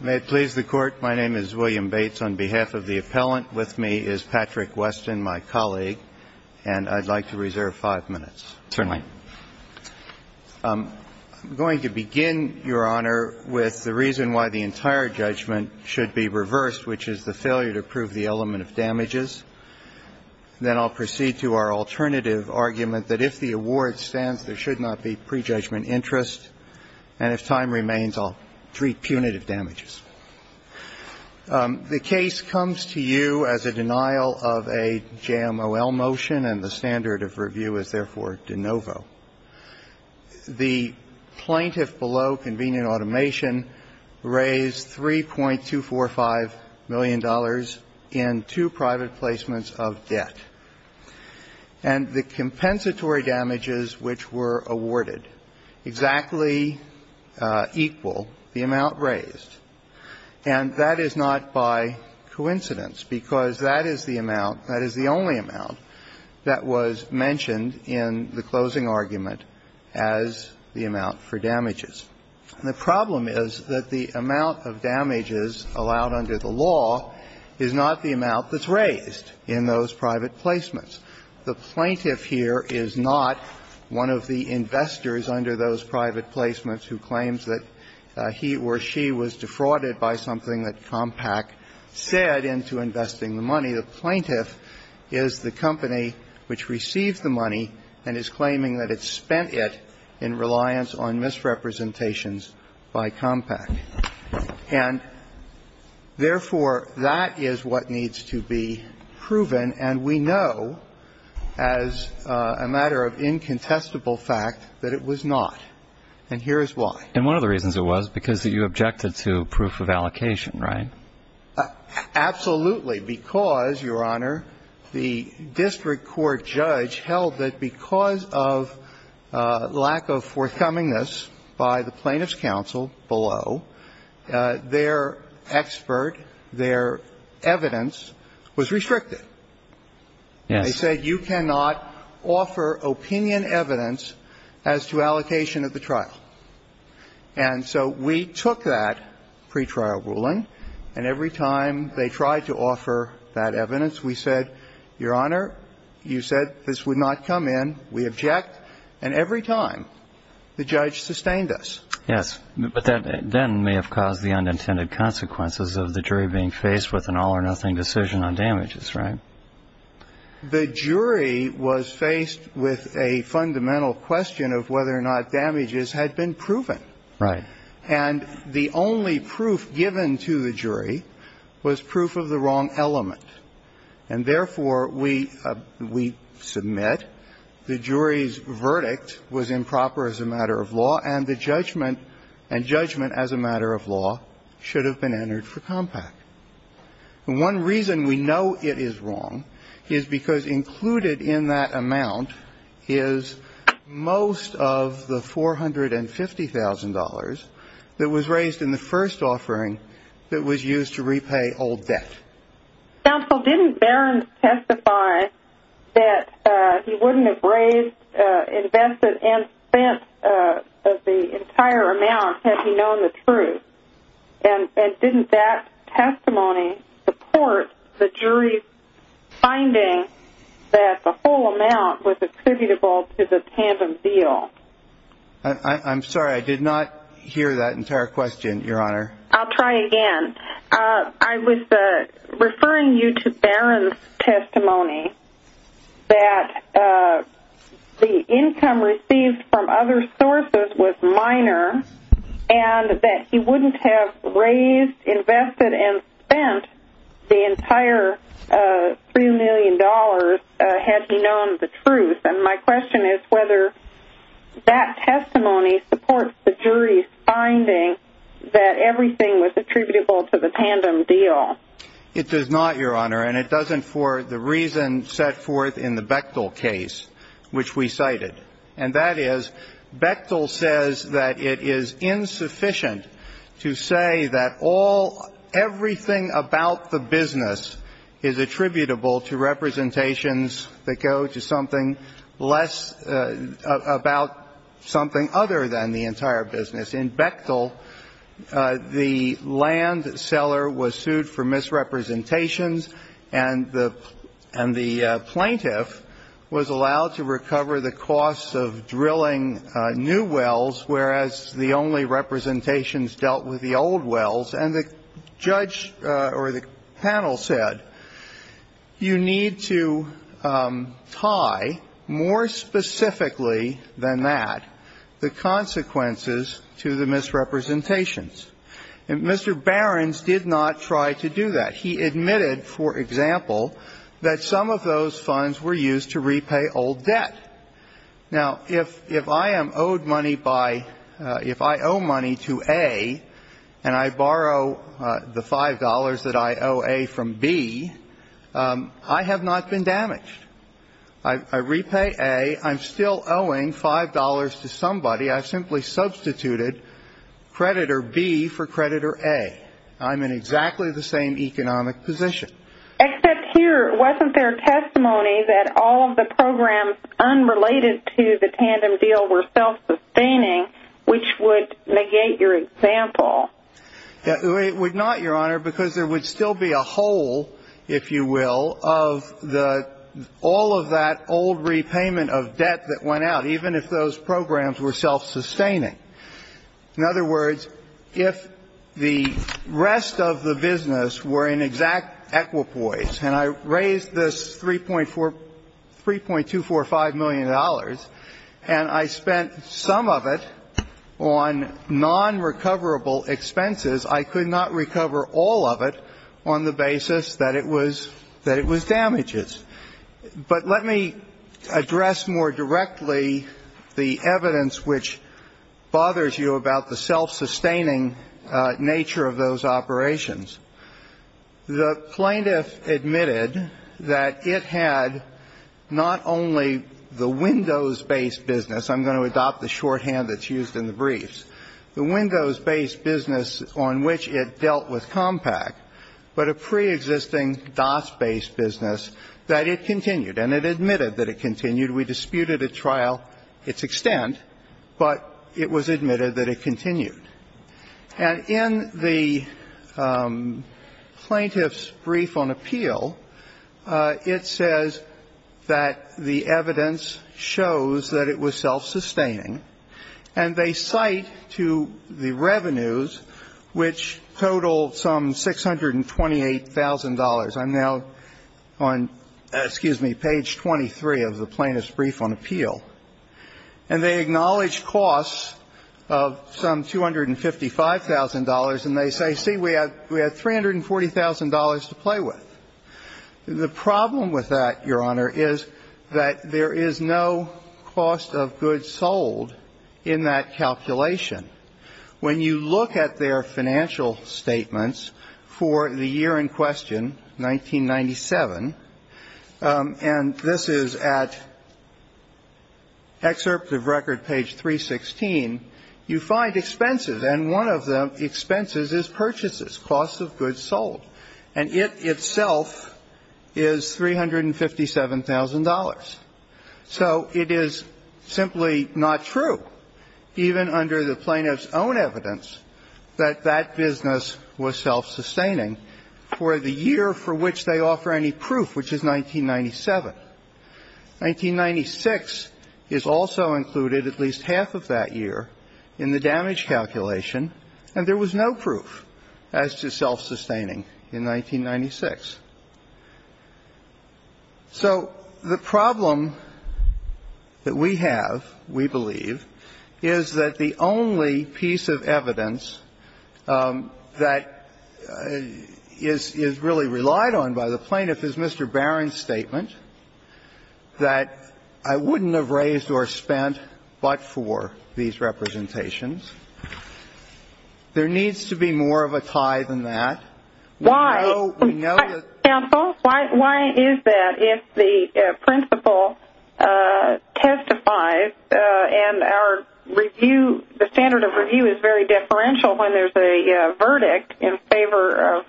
May it please the Court, my name is William Bates. On behalf of the appellant with me is Patrick Weston, my colleague, and I'd like to reserve five minutes. Certainly. I'm going to begin, Your Honor, with the reason why the entire judgment should be reversed, which is the failure to prove the element of damages. Then I'll proceed to our alternative argument that if the award stands, there should not be prejudgment interest. And if time remains, I'll treat punitive damages. The case comes to you as a denial of a JMOL motion, and the standard of review is therefore de novo. The plaintiff below, Convenient Automation, raised $3.245 million in two private placements of debt. And the compensatory damages which were awarded exactly equal the amount raised. And that is not by coincidence, because that is the amount, that is the only amount that was mentioned in the closing argument as the amount for damages. And the problem is that the amount of damages allowed under the law is not the amount that's raised in those private placements. The plaintiff here is not one of the investors under those private placements who claims that he or she was defrauded by something that Compaq said into investing the money. The plaintiff is the company which received the money and is claiming that it spent it in reliance on misrepresentations by Compaq. And therefore, that is what needs to be proven, and we know as a matter of incontestable fact that it was not, and here is why. And one of the reasons it was, because you objected to proof of allocation, right? Absolutely. Because, Your Honor, the district court judge held that because of lack of forthcomingness by the plaintiff's counsel below, their expert, their evidence was restricted. Yes. They said you cannot offer opinion evidence as to allocation of the trial. And so we took that pretrial ruling, and every time they tried to offer that evidence, we said, Your Honor, you said this would not come in. We object. And every time, the judge sustained us. Yes. But that then may have caused the unintended consequences of the jury being faced with an all-or-nothing decision on damages, right? Well, the jury has been proven. Right. And the only proof given to the jury was proof of the wrong element. And therefore, we submit the jury's verdict was improper as a matter of law, and the judgment, and judgment as a matter of law, should have been entered for Compaq. One reason we know it is wrong is because included in that amount is most of the $450,000 that was raised in the first offering that was used to repay old debt. Counsel, didn't Barron testify that he wouldn't have raised, invested, and spent the entire amount had he known the truth? And didn't that testimony support the jury's finding that the whole amount was attributable to the tandem deal? I'm sorry. I did not hear that entire question, Your Honor. I'll try again. I was referring you to Barron's testimony that the income received from other sources was minor, and that he wouldn't have raised, invested, and spent the entire $3 million had he known the truth. And my question is whether that testimony supports the jury's finding that everything was attributable to the tandem deal. It does not, Your Honor. And it doesn't for the reason set forth in the Bechtel case, which we cited. And that is, Bechtel says that it is insufficient to say that all – everything about the business is attributable to representations that go to something less – about something other than the entire business. In Bechtel, the land seller was sued for misrepresentations, and the plaintiff was allowed to recover the costs of drilling new wells, whereas the only representations dealt with the old wells. And the judge or the panel said, you need to tie more specifically than that the consequences to the misrepresentations. And Mr. Barron's did not try to do that. He admitted, for example, that some of those funds were used to repay old debt. Now, if I am owed money by – if I owe money to A, and I borrow the $5 that I owe A from B, I have not been damaged. I repay A. I'm still owing $5 to somebody. I've simply substituted creditor B for creditor A. I'm in exactly the same economic position. Except here, wasn't there testimony that all of the programs unrelated to the tandem deal were self-sustaining, which would negate your example? It would not, Your Honor, because there would still be a hole, if you will, of the – all of that old repayment of debt that went out, even if those programs were self-sustaining. In other words, if the rest of the business were in exact equipoise, and I raised this $3.245 million, and I spent some of it on non-recoverable expenses, I could not recover all of it on the basis that it was – that it was damages. But let me address more directly the evidence which bothers you about the self-sustaining nature of those operations. The plaintiff admitted that it had not only the windows-based business – I'm going to adopt the shorthand that's used in the briefs – the windows-based business on which it dealt with Compaq, but a preexisting DAS-based business that it continued. And it admitted that it continued. We disputed at trial its extent, but it was admitted that it continued. And in the plaintiff's brief on appeal, it says that the evidence shows that it was self-sustaining, and they cite to the revenues that it was self-sustaining which totaled some $628,000. I'm now on, excuse me, page 23 of the plaintiff's brief on appeal. And they acknowledge costs of some $255,000, and they say, see, we had $340,000 to play with. The problem with that, Your Honor, is that there is no cost of goods sold in that calculation. When you look at their financial statements for the year in question, 1997 – and this is at excerpt of record, page 316 – you find expenses, and one of the expenses is purchases, costs of goods sold. And it itself is $357,000. So it is simply not true, even under the plaintiff's own evidence, that that business was self-sustaining for the year for which they offer any proof, which is 1997. 1996 is also included, at least half of that year, in the damage calculation, and there was no proof as to self-sustaining in 1996. So the problem that we have, we believe, is that the only piece of evidence that is really relied on by the plaintiff is Mr. Barron's statement that I wouldn't have raised or spent but for these representations. There needs to be more of a tie than that. Counsel, why is that if the principal testifies and our review, the standard of review is very differential when there is a verdict in favor of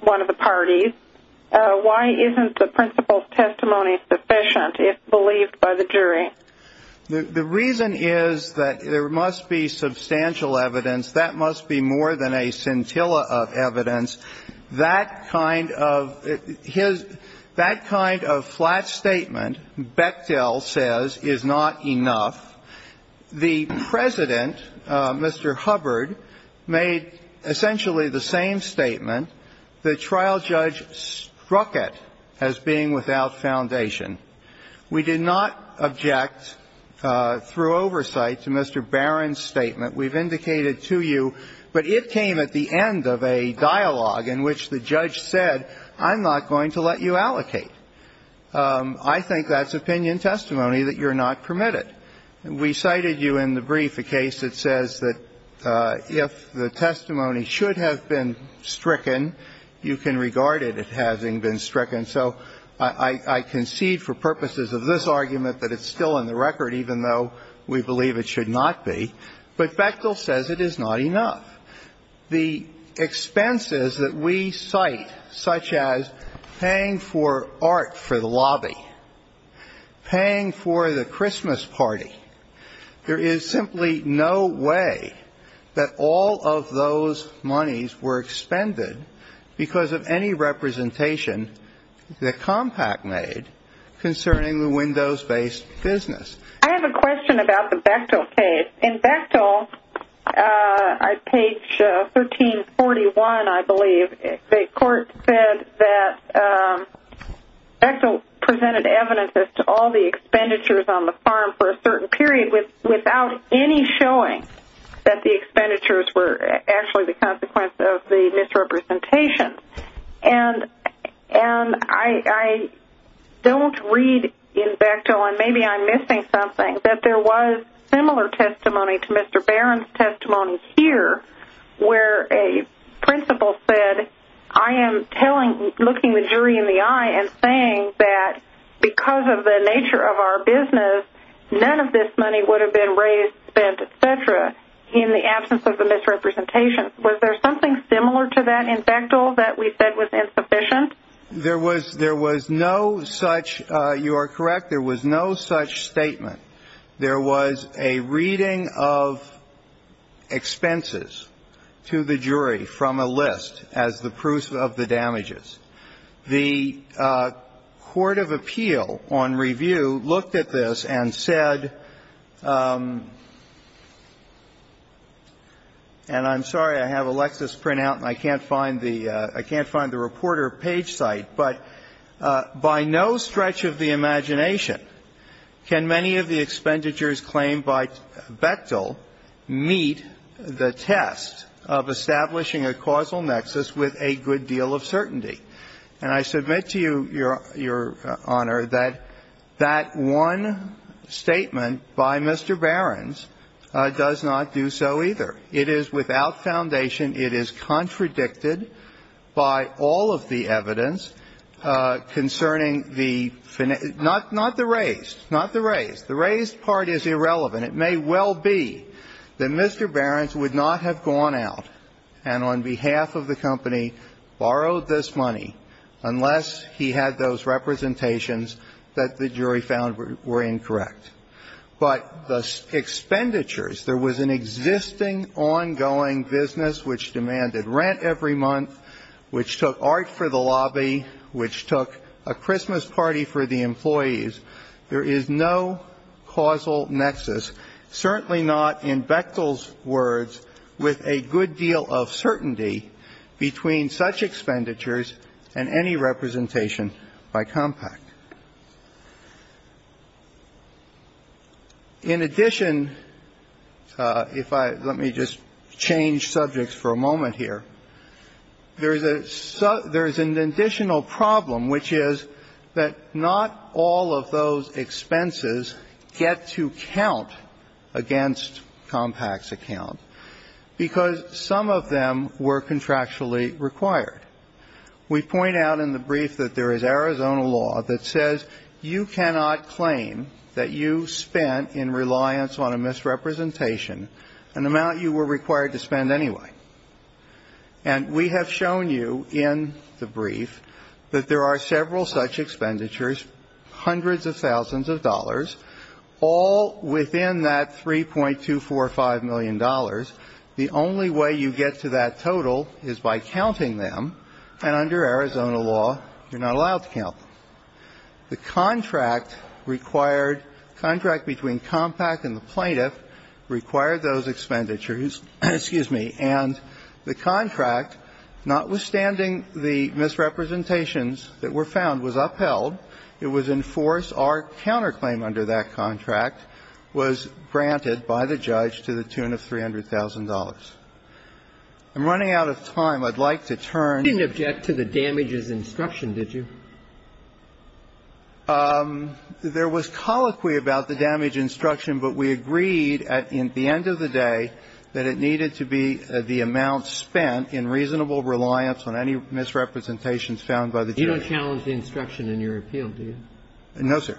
one of the parties, why isn't the principal's testimony sufficient if believed by the jury? The reason is that there must be substantial evidence. That must be more than a scintilla of evidence. That kind of flat statement, Bechtel says, is not enough. The President, Mr. Hubbard, made essentially the same statement. The trial judge struck it as being without foundation. We did not object through oversight to Mr. Barron's statement. We've indicated to you, but it came at the end of a dialogue in which the judge said, I'm not going to let you allocate. I think that's opinion testimony that you're not permitted. We cited you in the brief a case that says that if the testimony should have been stricken, you can regard it as having been stricken. So I concede for purposes of this argument that it's still in the record, even though we believe it should not be. But Bechtel says it is not enough. The expenses that we cite, such as paying for art for the lobby, paying for the Christmas party, there is simply no way that all of those monies were expended because of any representation that Compact made concerning the Windows-based business. I have a question about the Bechtel case. In Bechtel, page 1341, I believe, the court said that Bechtel presented evidence as to all the expenditures on the farm for a certain period without any showing that the expenditures were actually the consequence of the misrepresentation. And I don't read in Bechtel, and maybe I'm missing something, that there was similar testimony to Mr. Barron's testimony here, where a principal said, I am looking the jury in the eye and saying that because of the nature of our business, none of this money would have been raised, spent, et cetera, in the absence of the misrepresentation. Was there something similar to that in Bechtel that we said was insufficient? There was no such, you are correct, there was no such statement. There was a reading of expenses to the jury from a list as the proof of the damages. The court of appeal on review looked at this and said, and I'm sorry, I have a Lexis printout and I can't find the reporter page site, but by no stretch of the imagination, can many of the expenditures claimed by Bechtel meet the test of establishing a causal nexus with a good deal of certainty? And I submit to you, Your Honor, that that one statement by Mr. Barron's does not do so either. It is without foundation, it is contradicted by all of the evidence concerning the, not the raised, not the raised, the raised part is irrelevant. It may well be that Mr. Barron's would not have gone out and on behalf of the company borrowed this money unless he had those representations that the jury found were incorrect. But the expenditures, there was an existing ongoing business which demanded rent every month, which took art for the lobby, which took a Christmas party for the employees. There is no causal nexus, certainly not in Bechtel's words, with a good deal of certainty between such expenditures and any representation by Compact. In addition, if I, let me just change subjects for a moment here. There is a, there is an additional problem which is that not all of those expenses get to count against Compact's account because some of them were contractually required. We point out in the brief that there is Arizona law that says you cannot claim that you spent in reliance on a misrepresentation an amount you were required to spend anyway. And we have shown you in the brief that there are several such expenditures, hundreds of thousands of dollars, all within that $3.245 million. The only way you get to that total is by counting them, and under Arizona law, you're not allowed to count them. The contract required, the contract between Compact and the plaintiff required those expenditures, excuse me, and the contract, notwithstanding the misrepresentations that were found, was upheld. It was in force. Our counterclaim under that contract was granted by the judge to the tune of $300,000. I'm running out of time. I'd like to turn. Ginsburg. You didn't object to the damages instruction, did you? There was colloquy about the damage instruction, but we agreed at the end of the day that it needed to be the amount spent in reasonable reliance on any misrepresentations found by the judge. You don't challenge the instruction in your appeal, do you? No, sir.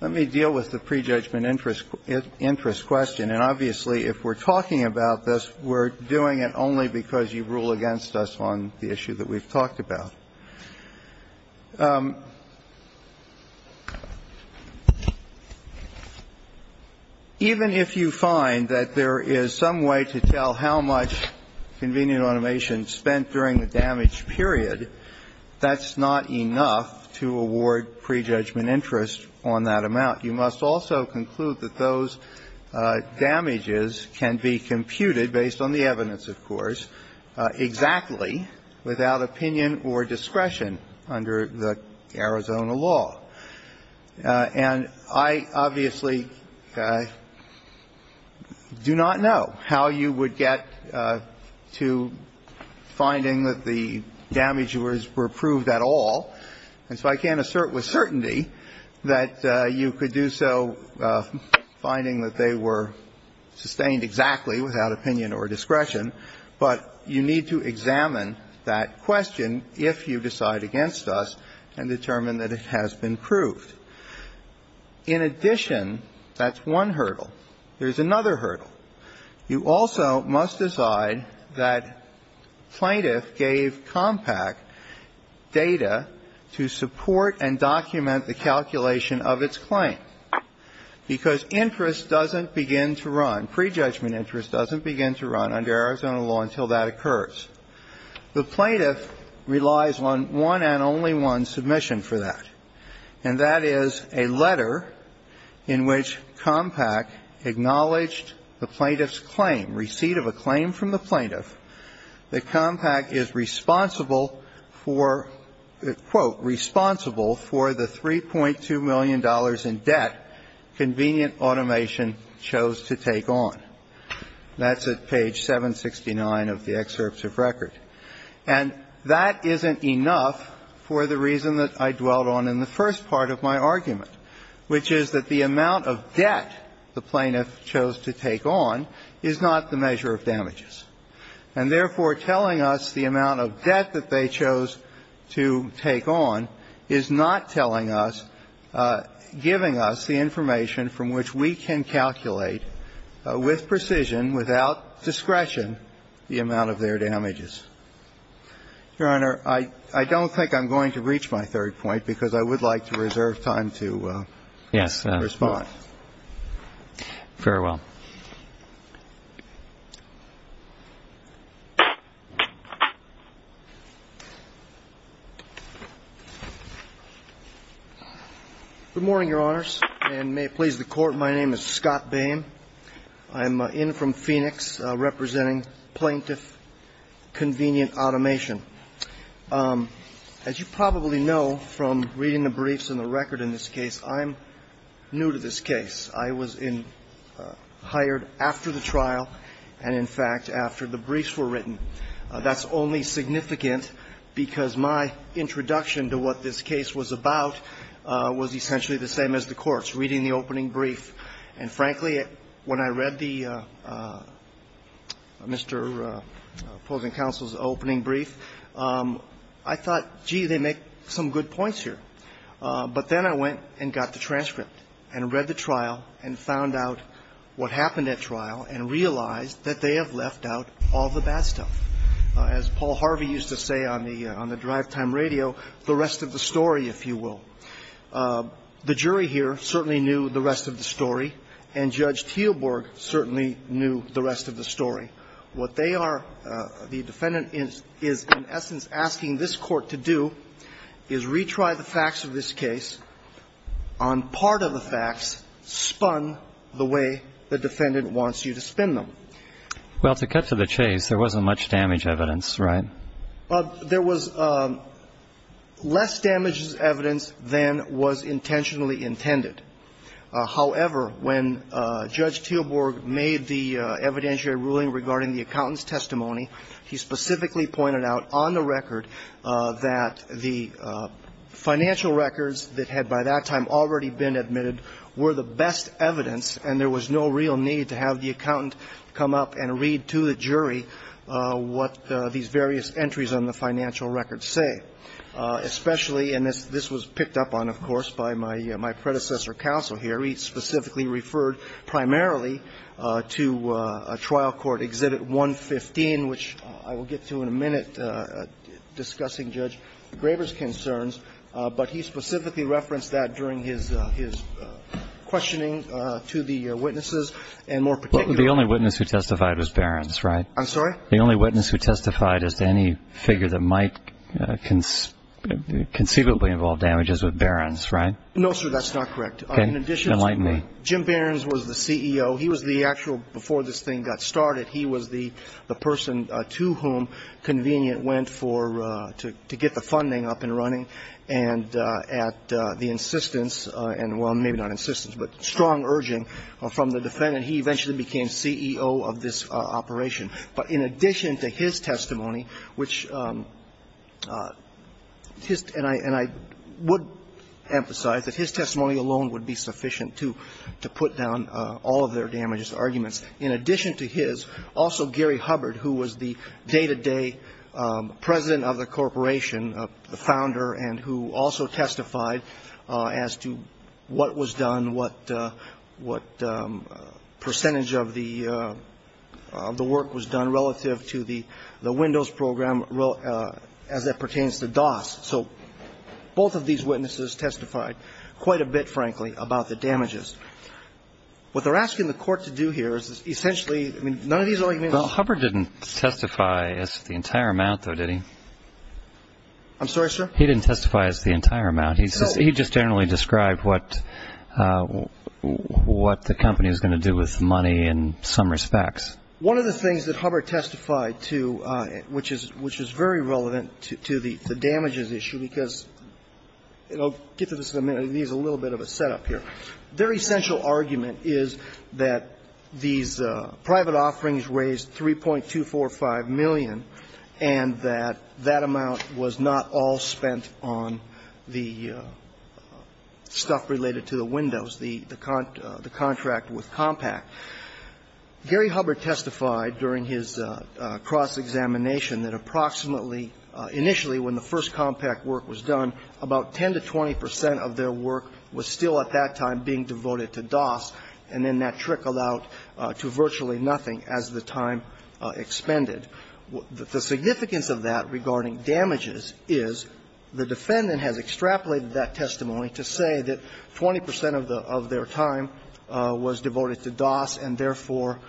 Let me deal with the prejudgment interest question. And obviously, if we're talking about this, we're doing it only because you rule against us on the issue that we've talked about. Even if you find that there is some way to tell how much convenient automation spent during the damage period, that's not enough to award prejudgment interest on that amount. You must also conclude that those damages can be computed, based on the evidence, of course, exactly, without opinion or discretion under the Arizona law. And I obviously do not know how you would get to finding that the damage was reproved at all, and so I can't assert with certainty that you could do so finding that they were sustained exactly without opinion or discretion, but you need to examine that question if you decide against us and determine that it has been proved. In addition, that's one hurdle. There's another hurdle. You also must decide that plaintiff gave Compact data to support and document the calculation of its claim, because interest doesn't begin to run, prejudgment interest doesn't begin to run under Arizona law until that occurs. The plaintiff relies on one and only one submission for that, and that is a letter in which Compact acknowledged the plaintiff's claim, receipt of a claim from the plaintiff, that Compact is responsible for the, quote, responsible for the $3.2 million in debt convenient automation chose to take on. That's at page 769 of the excerpt of record. And that isn't enough for the reason that I dwelt on in the first part of my argument, which is that the amount of debt the plaintiff chose to take on is not the measure of damages. And therefore, telling us the amount of debt that they chose to take on is not telling us, giving us the information from which we can calculate with precision, without discretion, the amount of their damages. Your Honor, I don't think I'm going to reach my third point, because I would like to reserve time to respond. All right. Farewell. Good morning, Your Honors, and may it please the Court, my name is Scott Boehm. I'm in from Phoenix representing Plaintiff Convenient Automation. As you probably know from reading the briefs and the record in this case, I'm new to this case. I was hired after the trial and, in fact, after the briefs were written. That's only significant because my introduction to what this case was about was essentially the same as the Court's, reading the opening brief. And frankly, when I read the Mr. opposing counsel's opening brief, I thought, gee, they make some good points here. But then I went and got the transcript and read the trial and found out what happened at trial and realized that they have left out all the bad stuff. As Paul Harvey used to say on the drive time radio, the rest of the story, if you will. The jury here certainly knew the rest of the story, and Judge Teelborg certainly knew the rest of the story. What they are, the defendant is, in essence, asking this Court to do is retry the facts of this case on part of the facts spun the way the defendant wants you to spin them. Well, to cut to the chase, there wasn't much damage evidence, right? There was less damage as evidence than was intentionally intended. However, when Judge Teelborg made the evidentiary ruling regarding the accountant's the financial records that had, by that time, already been admitted were the best evidence and there was no real need to have the accountant come up and read to the jury what these various entries on the financial records say, especially in this. This was picked up on, of course, by my predecessor counsel here. He specifically referred primarily to a trial court, Exhibit 115, which I will get to in a minute, discussing Judge Graeber's concerns, but he specifically referenced that during his questioning to the witnesses, and more particularly to the plaintiffs. The only witness who testified was Behrens, right? I'm sorry? The only witness who testified as to any figure that might conceivably involve damages was Behrens, right? No, sir, that's not correct. Okay. Enlighten me. Jim Behrens was the CEO. He was the actual, before this thing got started, he was the person to whom the convenience went for, to get the funding up and running, and at the insistence and, well, maybe not insistence, but strong urging from the defendant, he eventually became CEO of this operation. But in addition to his testimony, which his, and I would emphasize that his testimony alone would be sufficient to put down all of their damages arguments, in addition to his, also Gary Hubbard, who was the day-to-day president of the corporation, the founder, and who also testified as to what was done, what percentage of the work was done relative to the windows program as it pertains to DOS. So both of these witnesses testified quite a bit, frankly, about the damages. What they're asking the court to do here is essentially, I mean, none of these arguments. Well, Hubbard didn't testify as to the entire amount, though, did he? I'm sorry, sir? He didn't testify as to the entire amount. No. He just generally described what the company was going to do with money in some respects. One of the things that Hubbard testified to, which is very relevant to the damages issue, because, and I'll get to this in a minute, it needs a little bit of a setup here. Their essential argument is that these private offerings raised $3.245 million and that that amount was not all spent on the stuff related to the windows, the contract with Compaq. Gary Hubbard testified during his cross-examination that approximately initially when the first Compaq work was done, about 10 to 20 percent of their work was still at that time being devoted to DOS, and then that trickled out to virtually nothing as the time expended. The significance of that regarding damages is the defendant has extrapolated that testimony to say that 20 percent of their time was devoted to DOS, and therefore,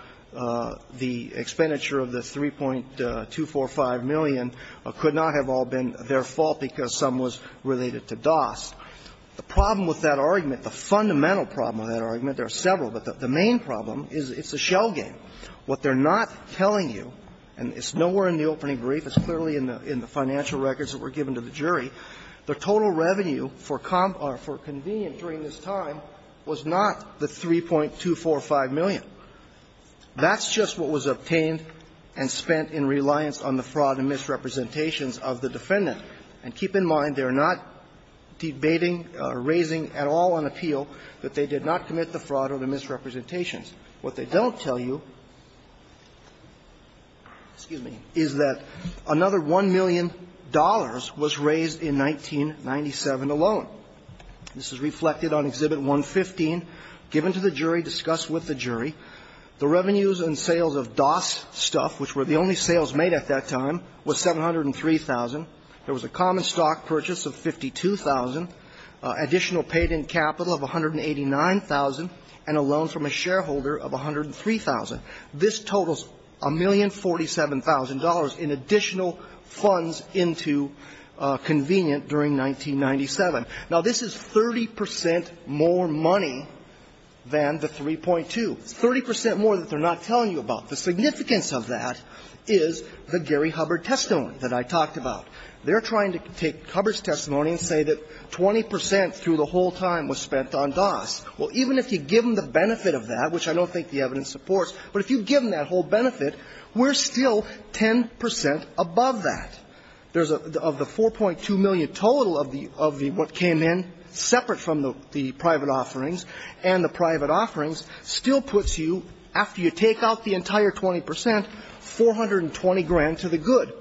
the expenditure of the $3.245 million could not have all been their fault because some was related to DOS. The problem with that argument, the fundamental problem with that argument, there are several, but the main problem is it's a shell game. What they're not telling you, and it's nowhere in the opening brief, it's clearly in the financial records that were given to the jury, the total revenue for Compaq or for convenient during this time was not the $3.245 million. That's just what was obtained and spent in reliance on the fraud and misrepresentations of the defendant. And keep in mind, they're not debating or raising at all an appeal that they did not commit the fraud or the misrepresentations. What they don't tell you, excuse me, is that another $1 million was raised in 1997 alone. This is reflected on Exhibit 115, given to the jury, discussed with the jury. The revenues and sales of DOS stuff, which were the only sales made at that time, was $703,000. There was a common stock purchase of $52,000, additional paid-in capital of $189,000, and a loan from a shareholder of $103,000. This totals $1,047,000 in additional funds into convenient during 1997. Now, this is 30 percent more money than the 3.2. It's 30 percent more that they're not telling you about. The significance of that is the Gary Hubbard testimony that I talked about. They're trying to take Hubbard's testimony and say that 20 percent through the whole time was spent on DOS. Well, even if you give them the benefit of that, which I don't think the evidence supports, but if you give them that whole benefit, we're still 10 percent above that. There's a of the $4.2 million total of the of the what came in, separate from the private offerings, and the private offerings, still puts you, after you take out the entire 20 percent, $420,000 to the good.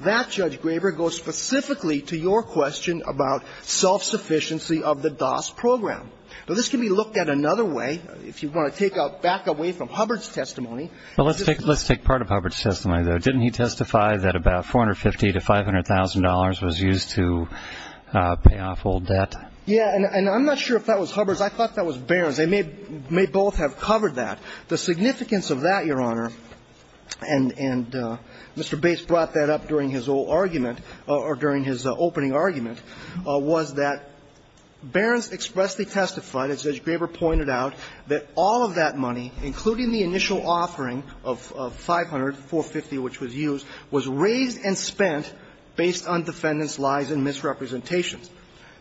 That, Judge Graber, goes specifically to your question about self-sufficiency of the DOS program. Now, this can be looked at another way. If you want to take out back away from Hubbard's testimony. Well, let's take let's take part of Hubbard's testimony, though. Didn't he testify that about $450,000 to $500,000 was used to pay off old debt? Yeah, and I'm not sure if that was Hubbard's. I thought that was Barron's. They may both have covered that. The significance of that, Your Honor, and Mr. Bates brought that up during his old argument, or during his opening argument, was that Barron's expressly testified, as Judge Graber pointed out, that all of that money, including the initial offering of $500,000, $450,000 which was used, was raised and spent based on defendants' lies and misrepresentations.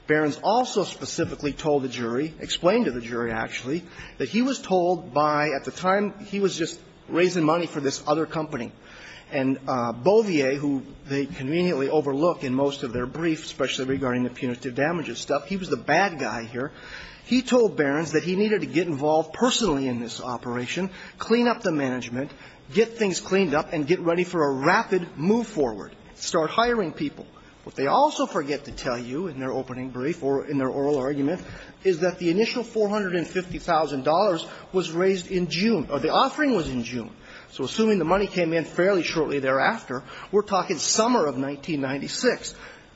Barron's also specifically told the jury, explained to the jury, actually, that he was told by, at the time, he was just raising money for this other company. And Beauvier, who they conveniently overlook in most of their briefs, especially regarding the punitive damages stuff, he was the bad guy here. He told Barron's that he needed to get involved personally in this operation, clean up the management, get things cleaned up, and get ready for a rapid move forward, start hiring people. What they also forget to tell you in their opening brief or in their oral argument is that the initial $450,000 was raised in June, or the offering was in June. So assuming the money came in fairly shortly thereafter, we're talking summer of 1996.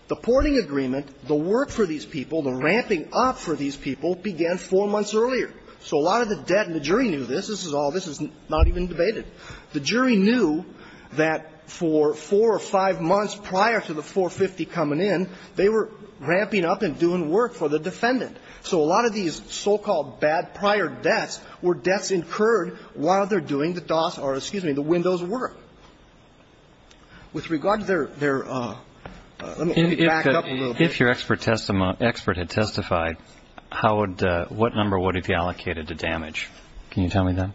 The porting agreement, the work for these people, the ramping up for these people, began four months earlier. So a lot of the debt, and the jury knew this, this is all, this is not even debated. The jury knew that for four or five months prior to the 450 coming in, they were So a lot of these so-called bad prior debts were debts incurred while they're doing the DOS or, excuse me, the windows work. With regard to their, their, let me back up a little bit. If your expert had testified, how would, what number would it be allocated to damage? Can you tell me that?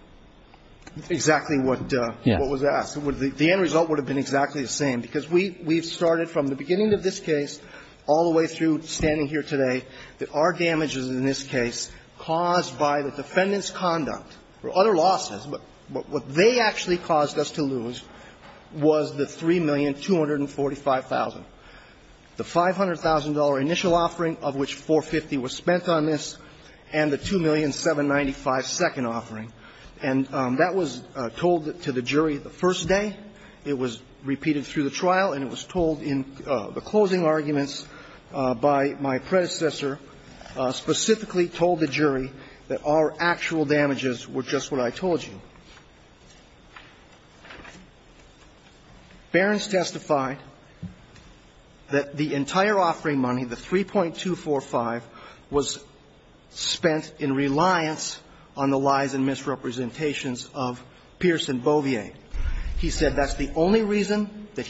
Exactly what was asked. The end result would have been exactly the same, because we've started from the beginning of this case, all the way through standing here today, that our damages in this case caused by the defendant's conduct or other losses, but what they actually caused us to lose was the $3,245,000. The $500,000 initial offering of which $450,000 was spent on this and the $2,795,000 second offering, and that was told to the jury the first day. It was repeated through the trial, and it was told in the closing arguments by my predecessor, specifically told the jury that our actual damages were just what I told you. Barron's testified that the entire offering money, the $3,245,000, was spent in reliance on the lies and misrepresentations of Pierce and Beauvier. That's the only reason that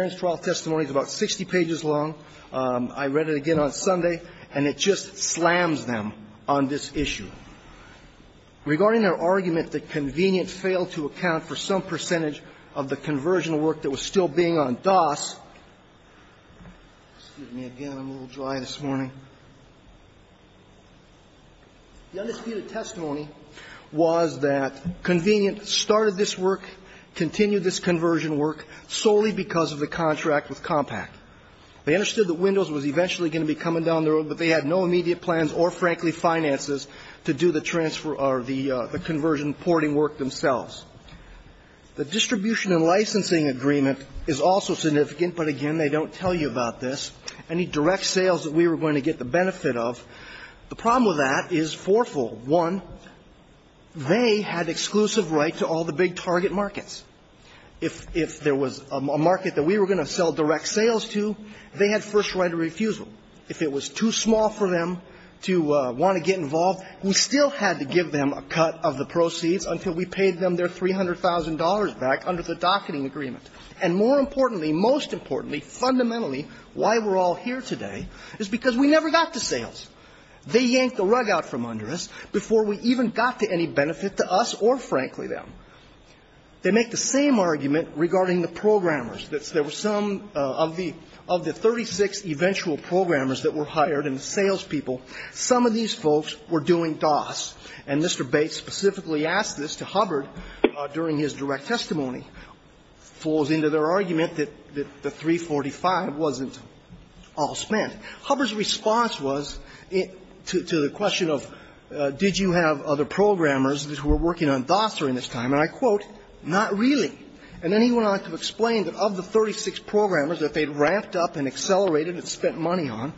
Barron's trial testimony is about 60 pages long. I read it again on Sunday, and it just slams them on this case, and that's why I'm Regarding their argument that Convenient failed to account for some percentage of the conversion work that was still being on DOS, excuse me again, I'm a little dry this morning. The undisputed testimony was that Convenient started this work, continued this conversion work solely because of the contract with Compaq. They understood that Windows was eventually going to be coming down the road, but they had no immediate plans or, frankly, finances to do the transfer or the conversion porting work themselves. The distribution and licensing agreement is also significant, but again, they don't tell you about this. Any direct sales that we were going to get the benefit of, the problem with that is fourfold. One, they had exclusive right to all the big target markets. If there was a market that we were going to sell direct sales to, they had first right of refusal. If it was too small for them to want to get involved, we still had to give them a cut of the proceeds until we paid them their $300,000 back under the docketing agreement. And more importantly, most importantly, fundamentally, why we're all here today is because we never got the sales. They yanked the rug out from under us before we even got to any benefit to us or, frankly, them. They make the same argument regarding the programmers. There were some of the 36 eventual programmers that were hired and the salespeople, some of these folks were doing DOS. And Mr. Bates specifically asked this to Hubbard during his direct testimony. Falls into their argument that the 345 wasn't all spent. Hubbard's response was to the question of did you have other programmers who were working on DOS during this time, and I quote, not really. And then he went on to explain that of the 36 programmers that they'd ramped up and accelerated and spent money on,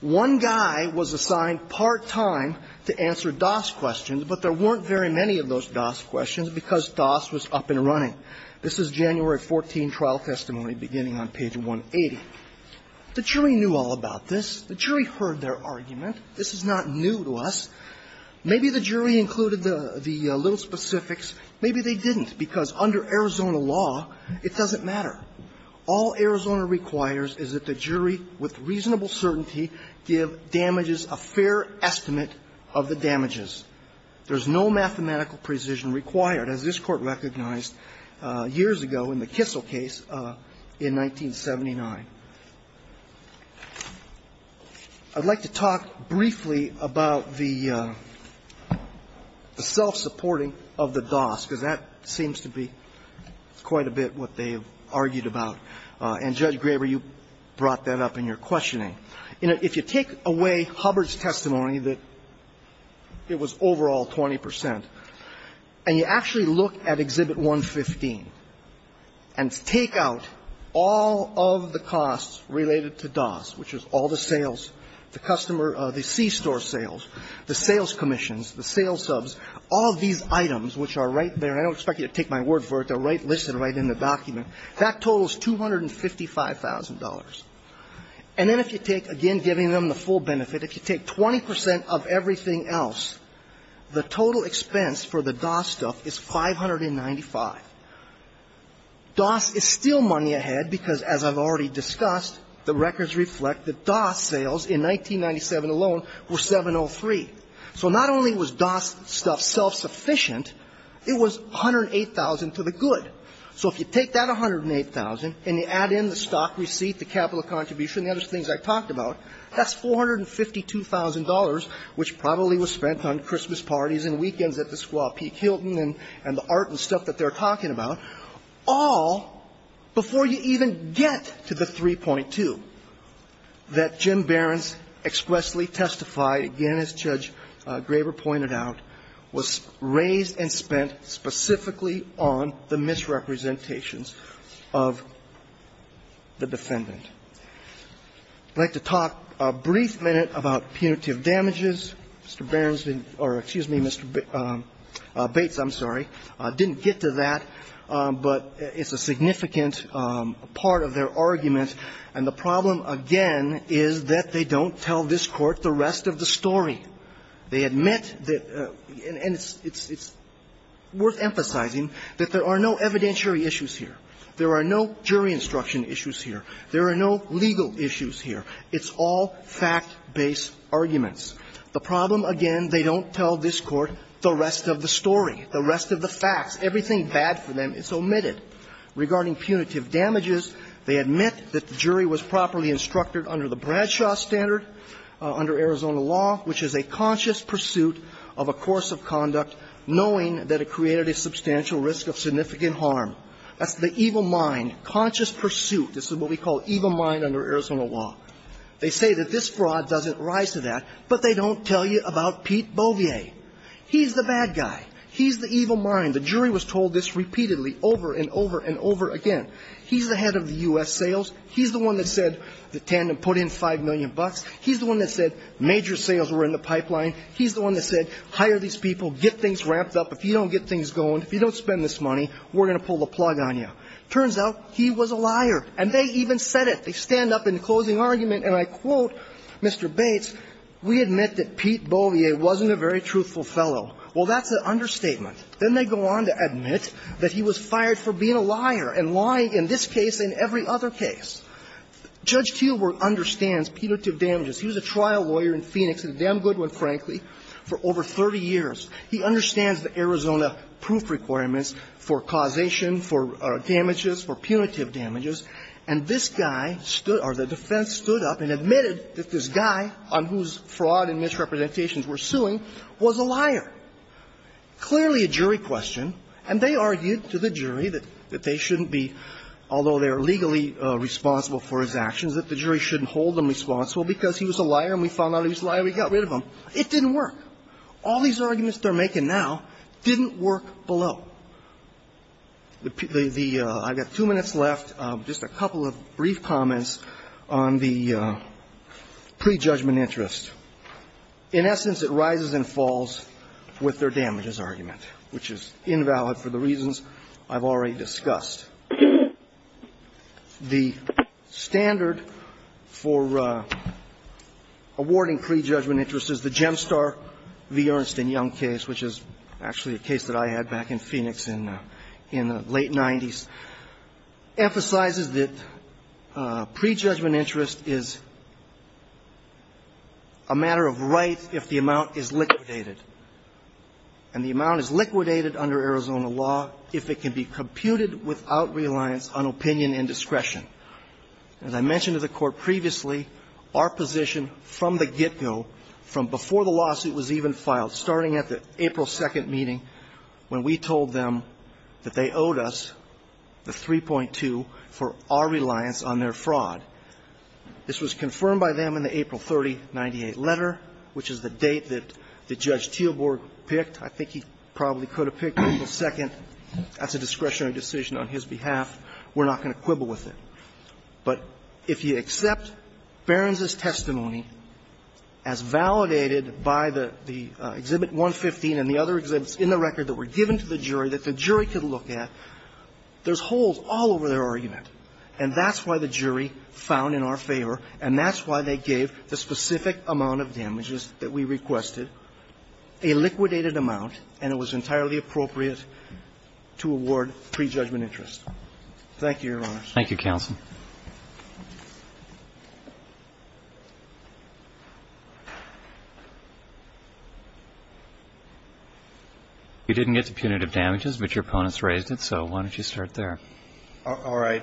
one guy was assigned part-time to answer DOS questions, but there weren't very many of those DOS questions because DOS was up and running. This is January 14 trial testimony beginning on page 180. The jury knew all about this. The jury heard their argument. This is not new to us. Maybe the jury included the little specifics. Maybe they didn't, because under Arizona law, it doesn't matter. All Arizona requires is that the jury with reasonable certainty give damages a fair estimate of the damages. There's no mathematical precision required, as this Court recognized years ago in the Kissel case in 1979. I'd like to talk briefly about the self-supporting of the DOS. Because that seems to be quite a bit what they've argued about. And, Judge Graber, you brought that up in your questioning. If you take away Hubbard's testimony that it was overall 20 percent, and you actually look at Exhibit 115 and take out all of the costs related to DOS, which is all the sales, the customer, the C-Store sales, the sales commissions, the sales subs, all of these items, which are right there, and I don't expect you to take my word for it. They're right listed right in the document. That totals $255,000. And then if you take, again, giving them the full benefit, if you take 20 percent of everything else, the total expense for the DOS stuff is 595. DOS is still money ahead, because, as I've already discussed, the records reflect that DOS sales in 1997 alone were 703. So not only was DOS stuff self-sufficient, it was 108,000 to the good. So if you take that 108,000 and you add in the stock receipt, the capital contribution, the other things I talked about, that's $452,000, which probably was spent on Christmas parties and weekends at the Squaw Peak Hilton and the art and stuff that they're talking about, all before you even get to the 3.2 that Jim Behrens expressly testified, again, as Judge Graber pointed out, was raised and spent specifically on the misrepresentations of the defendant. I'd like to talk a brief minute about punitive damages. Mr. Behrens didn't or, excuse me, Mr. Bates, I'm sorry, didn't get to that, but it's a significant part of their argument, and the problem, again, is that they don't tell this Court the rest of the story. They admit that the – and it's worth emphasizing that there are no evidentiary issues here. There are no jury instruction issues here. There are no legal issues here. It's all fact-based arguments. The problem, again, they don't tell this Court the rest of the story, the rest of the facts. Everything bad for them is omitted. Regarding punitive damages, they admit that the jury was properly instructed under the Bradshaw standard, under Arizona law, which is a conscious pursuit of a course of conduct knowing that it created a substantial risk of significant harm. That's the evil mind, conscious pursuit. This is what we call evil mind under Arizona law. They say that this fraud doesn't rise to that, but they don't tell you about Pete Beauvier. He's the bad guy. He's the evil mind. The jury was told this repeatedly over and over and over again. He's the head of the U.S. sales. He's the one that said the tandem put in 5 million bucks. He's the one that said major sales were in the pipeline. He's the one that said hire these people, get things ramped up. If you don't get things going, if you don't spend this money, we're going to pull the plug on you. Turns out he was a liar, and they even said it. They stand up in the closing argument, and I quote Mr. Bates, we admit that Pete Beauvier wasn't a very truthful fellow. Well, that's an understatement. Then they go on to admit that he was fired for being a liar and lying in this case and every other case. Judge Kielburg understands punitive damages. He was a trial lawyer in Phoenix, and a damn good one, frankly, for over 30 years. He understands the Arizona proof requirements for causation, for damages, for punitive damages. And this guy stood or the defense stood up and admitted that this guy on whose fraud and misrepresentations we're suing was a liar. Clearly a jury question, and they argued to the jury that they shouldn't be, although they're legally responsible for his actions, that the jury shouldn't hold him responsible because he was a liar and we found out he was a liar and we got rid of him. It didn't work. All these arguments they're making now didn't work below. The – I've got two minutes left, just a couple of brief comments on the prejudgment interest. In essence, it rises and falls with their damages argument, which is invalid for the reasons I've already discussed. The standard for awarding prejudgment interest is the Gemstar v. Ernst and Young case, which is actually a case that I had back in Phoenix in the late 90s, emphasizes that prejudgment interest is a matter of right if the amount is liquidated. And the amount is liquidated under Arizona law if it can be computed without reliance on opinion and discretion. As I mentioned to the Court previously, our position from the get-go, from before the lawsuit was even filed, starting at the April 2nd meeting, when we told them that they owed us the 3.2 for our reliance on their fraud. This was confirmed by them in the April 3098 letter, which is the date that the judge Teelborg picked. I think he probably could have picked April 2nd. That's a discretionary decision on his behalf. We're not going to quibble with it. But if you accept Behrens's testimony as validated by the Exhibit 115 and the other exhibits in the record that were given to the jury that the jury could look at, there's holes all over their argument. And that's why the jury found in our favor, and that's why they gave the specific amount of damages that we requested, a liquidated amount, and it was entirely appropriate to award prejudgment interest. Thank you, Your Honors. Thank you, counsel. You didn't get to punitive damages, but your opponents raised it, so why don't you start there? All right.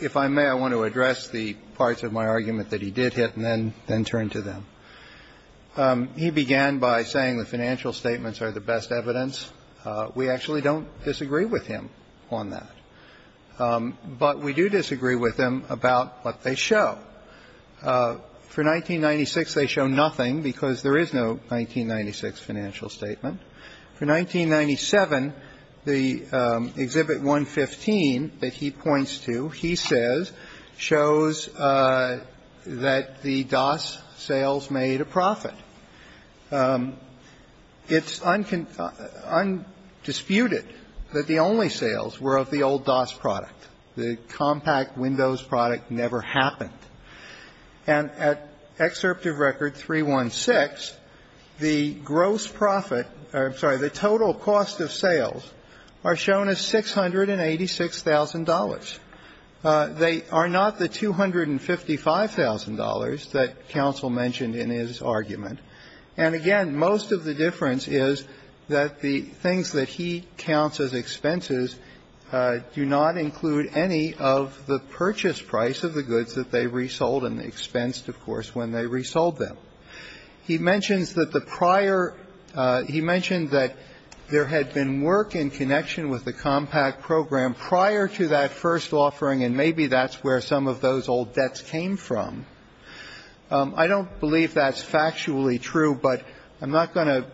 If I may, I want to address the parts of my argument that he did hit and then turn to them. He began by saying the financial statements are the best evidence. We actually don't disagree with him on that. But we do disagree with him about what they show. For 1996, they show nothing because there is no 1996 financial statement. For 1997, the Exhibit 115 that he points to, he says, shows that the DOS sales made a profit. It's undisputed that the only sales were of the old DOS product. The compact Windows product never happened. And at Excerptive Record 316, the gross profit or, I'm sorry, the total cost of sales are shown as $686,000. They are not the $255,000 that counsel mentioned in his argument. And again, most of the difference is that the things that he counts as expenses do not include any of the purchase price of the goods that they resold and the expense, of course, when they resold them. He mentions that the prior he mentioned that there had been work in connection with the compact program prior to that first offering, and maybe that's where some of those old debts came from. I don't believe that's factually true, but I'm not going to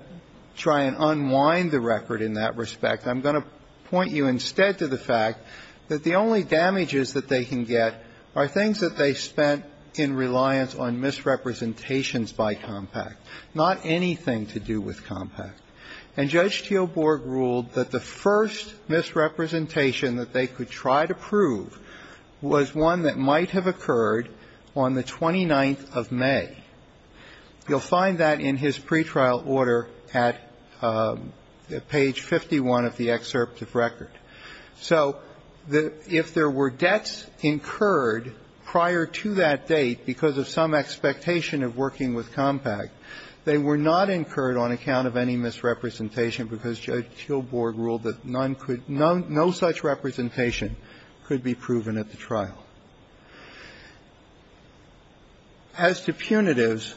try and unwind the record in that respect. I'm going to point you instead to the fact that the only damages that they can get are things that they spent in reliance on misrepresentations by compact, not anything to do with compact. And Judge Teelborg ruled that the first misrepresentation that they could try to prove was one that might have occurred on the 29th of May. You'll find that in his pretrial order at page 51 of the excerpt of record. So if there were debts incurred prior to that date because of some expectation of working with compact, they were not incurred on account of any misrepresentation because Judge Teelborg ruled that none could no such representation could be proven at the trial. As to punitives,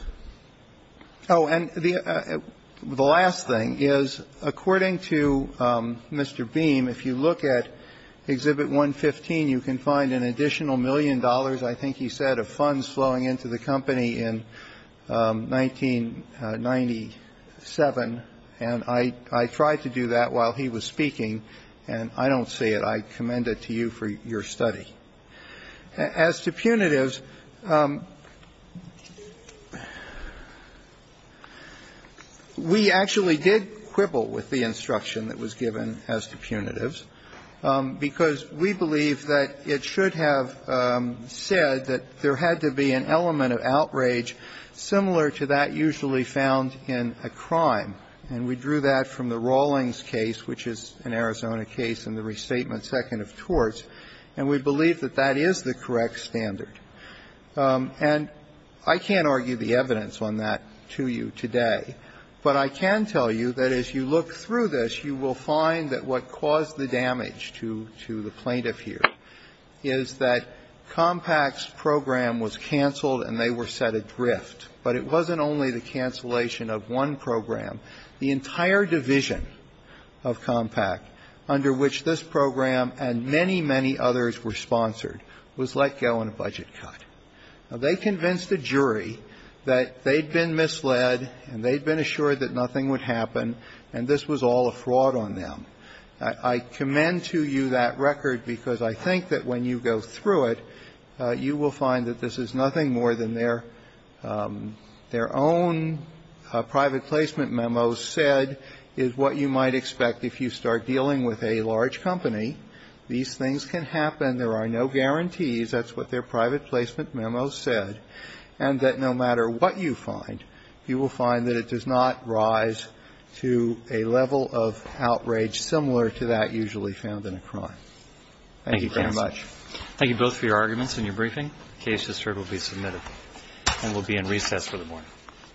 oh, and the last thing is, according to Mr. Beam, if you look at Exhibit 115, you can find an additional million dollars, I think he said, of funds flowing into the company in 1997, and I tried to do that while he was speaking, and I don't see it. I commend it to you for your study. As to punitives, we actually did quibble with the instruction that was given as to punitives, because we believe that it should have said that there had to be an element of outrage similar to that usually found in a crime. And we drew that from the Rawlings case, which is an Arizona case in the Restatement Second of Torts, and we believe that that is the correct standard. And I can't argue the evidence on that to you today, but I can tell you that as you look through this, you will find that what caused the damage to the plaintiff here is that Compaq's program was canceled and they were set adrift. But it wasn't only the cancellation of one program. The entire division of Compaq, under which this program and many, many others were sponsored, was let go on a budget cut. They convinced a jury that they'd been misled and they'd been assured that nothing would happen, and this was all a fraud on them. I commend to you that record, because I think that when you go through it, you will find that this is nothing more than their own private placement memo said is what you might expect if you start dealing with a large company. These things can happen. There are no guarantees. That's what their private placement memo said. And that no matter what you find, you will find that it does not rise to a level of outrage similar to that usually found in a crime. Thank you very much. Thank you both for your arguments and your briefing. The case is heard and will be submitted and will be in recess for the morning. I feel like I can't fucking play this with Barron's head. This is gonna fail me this time.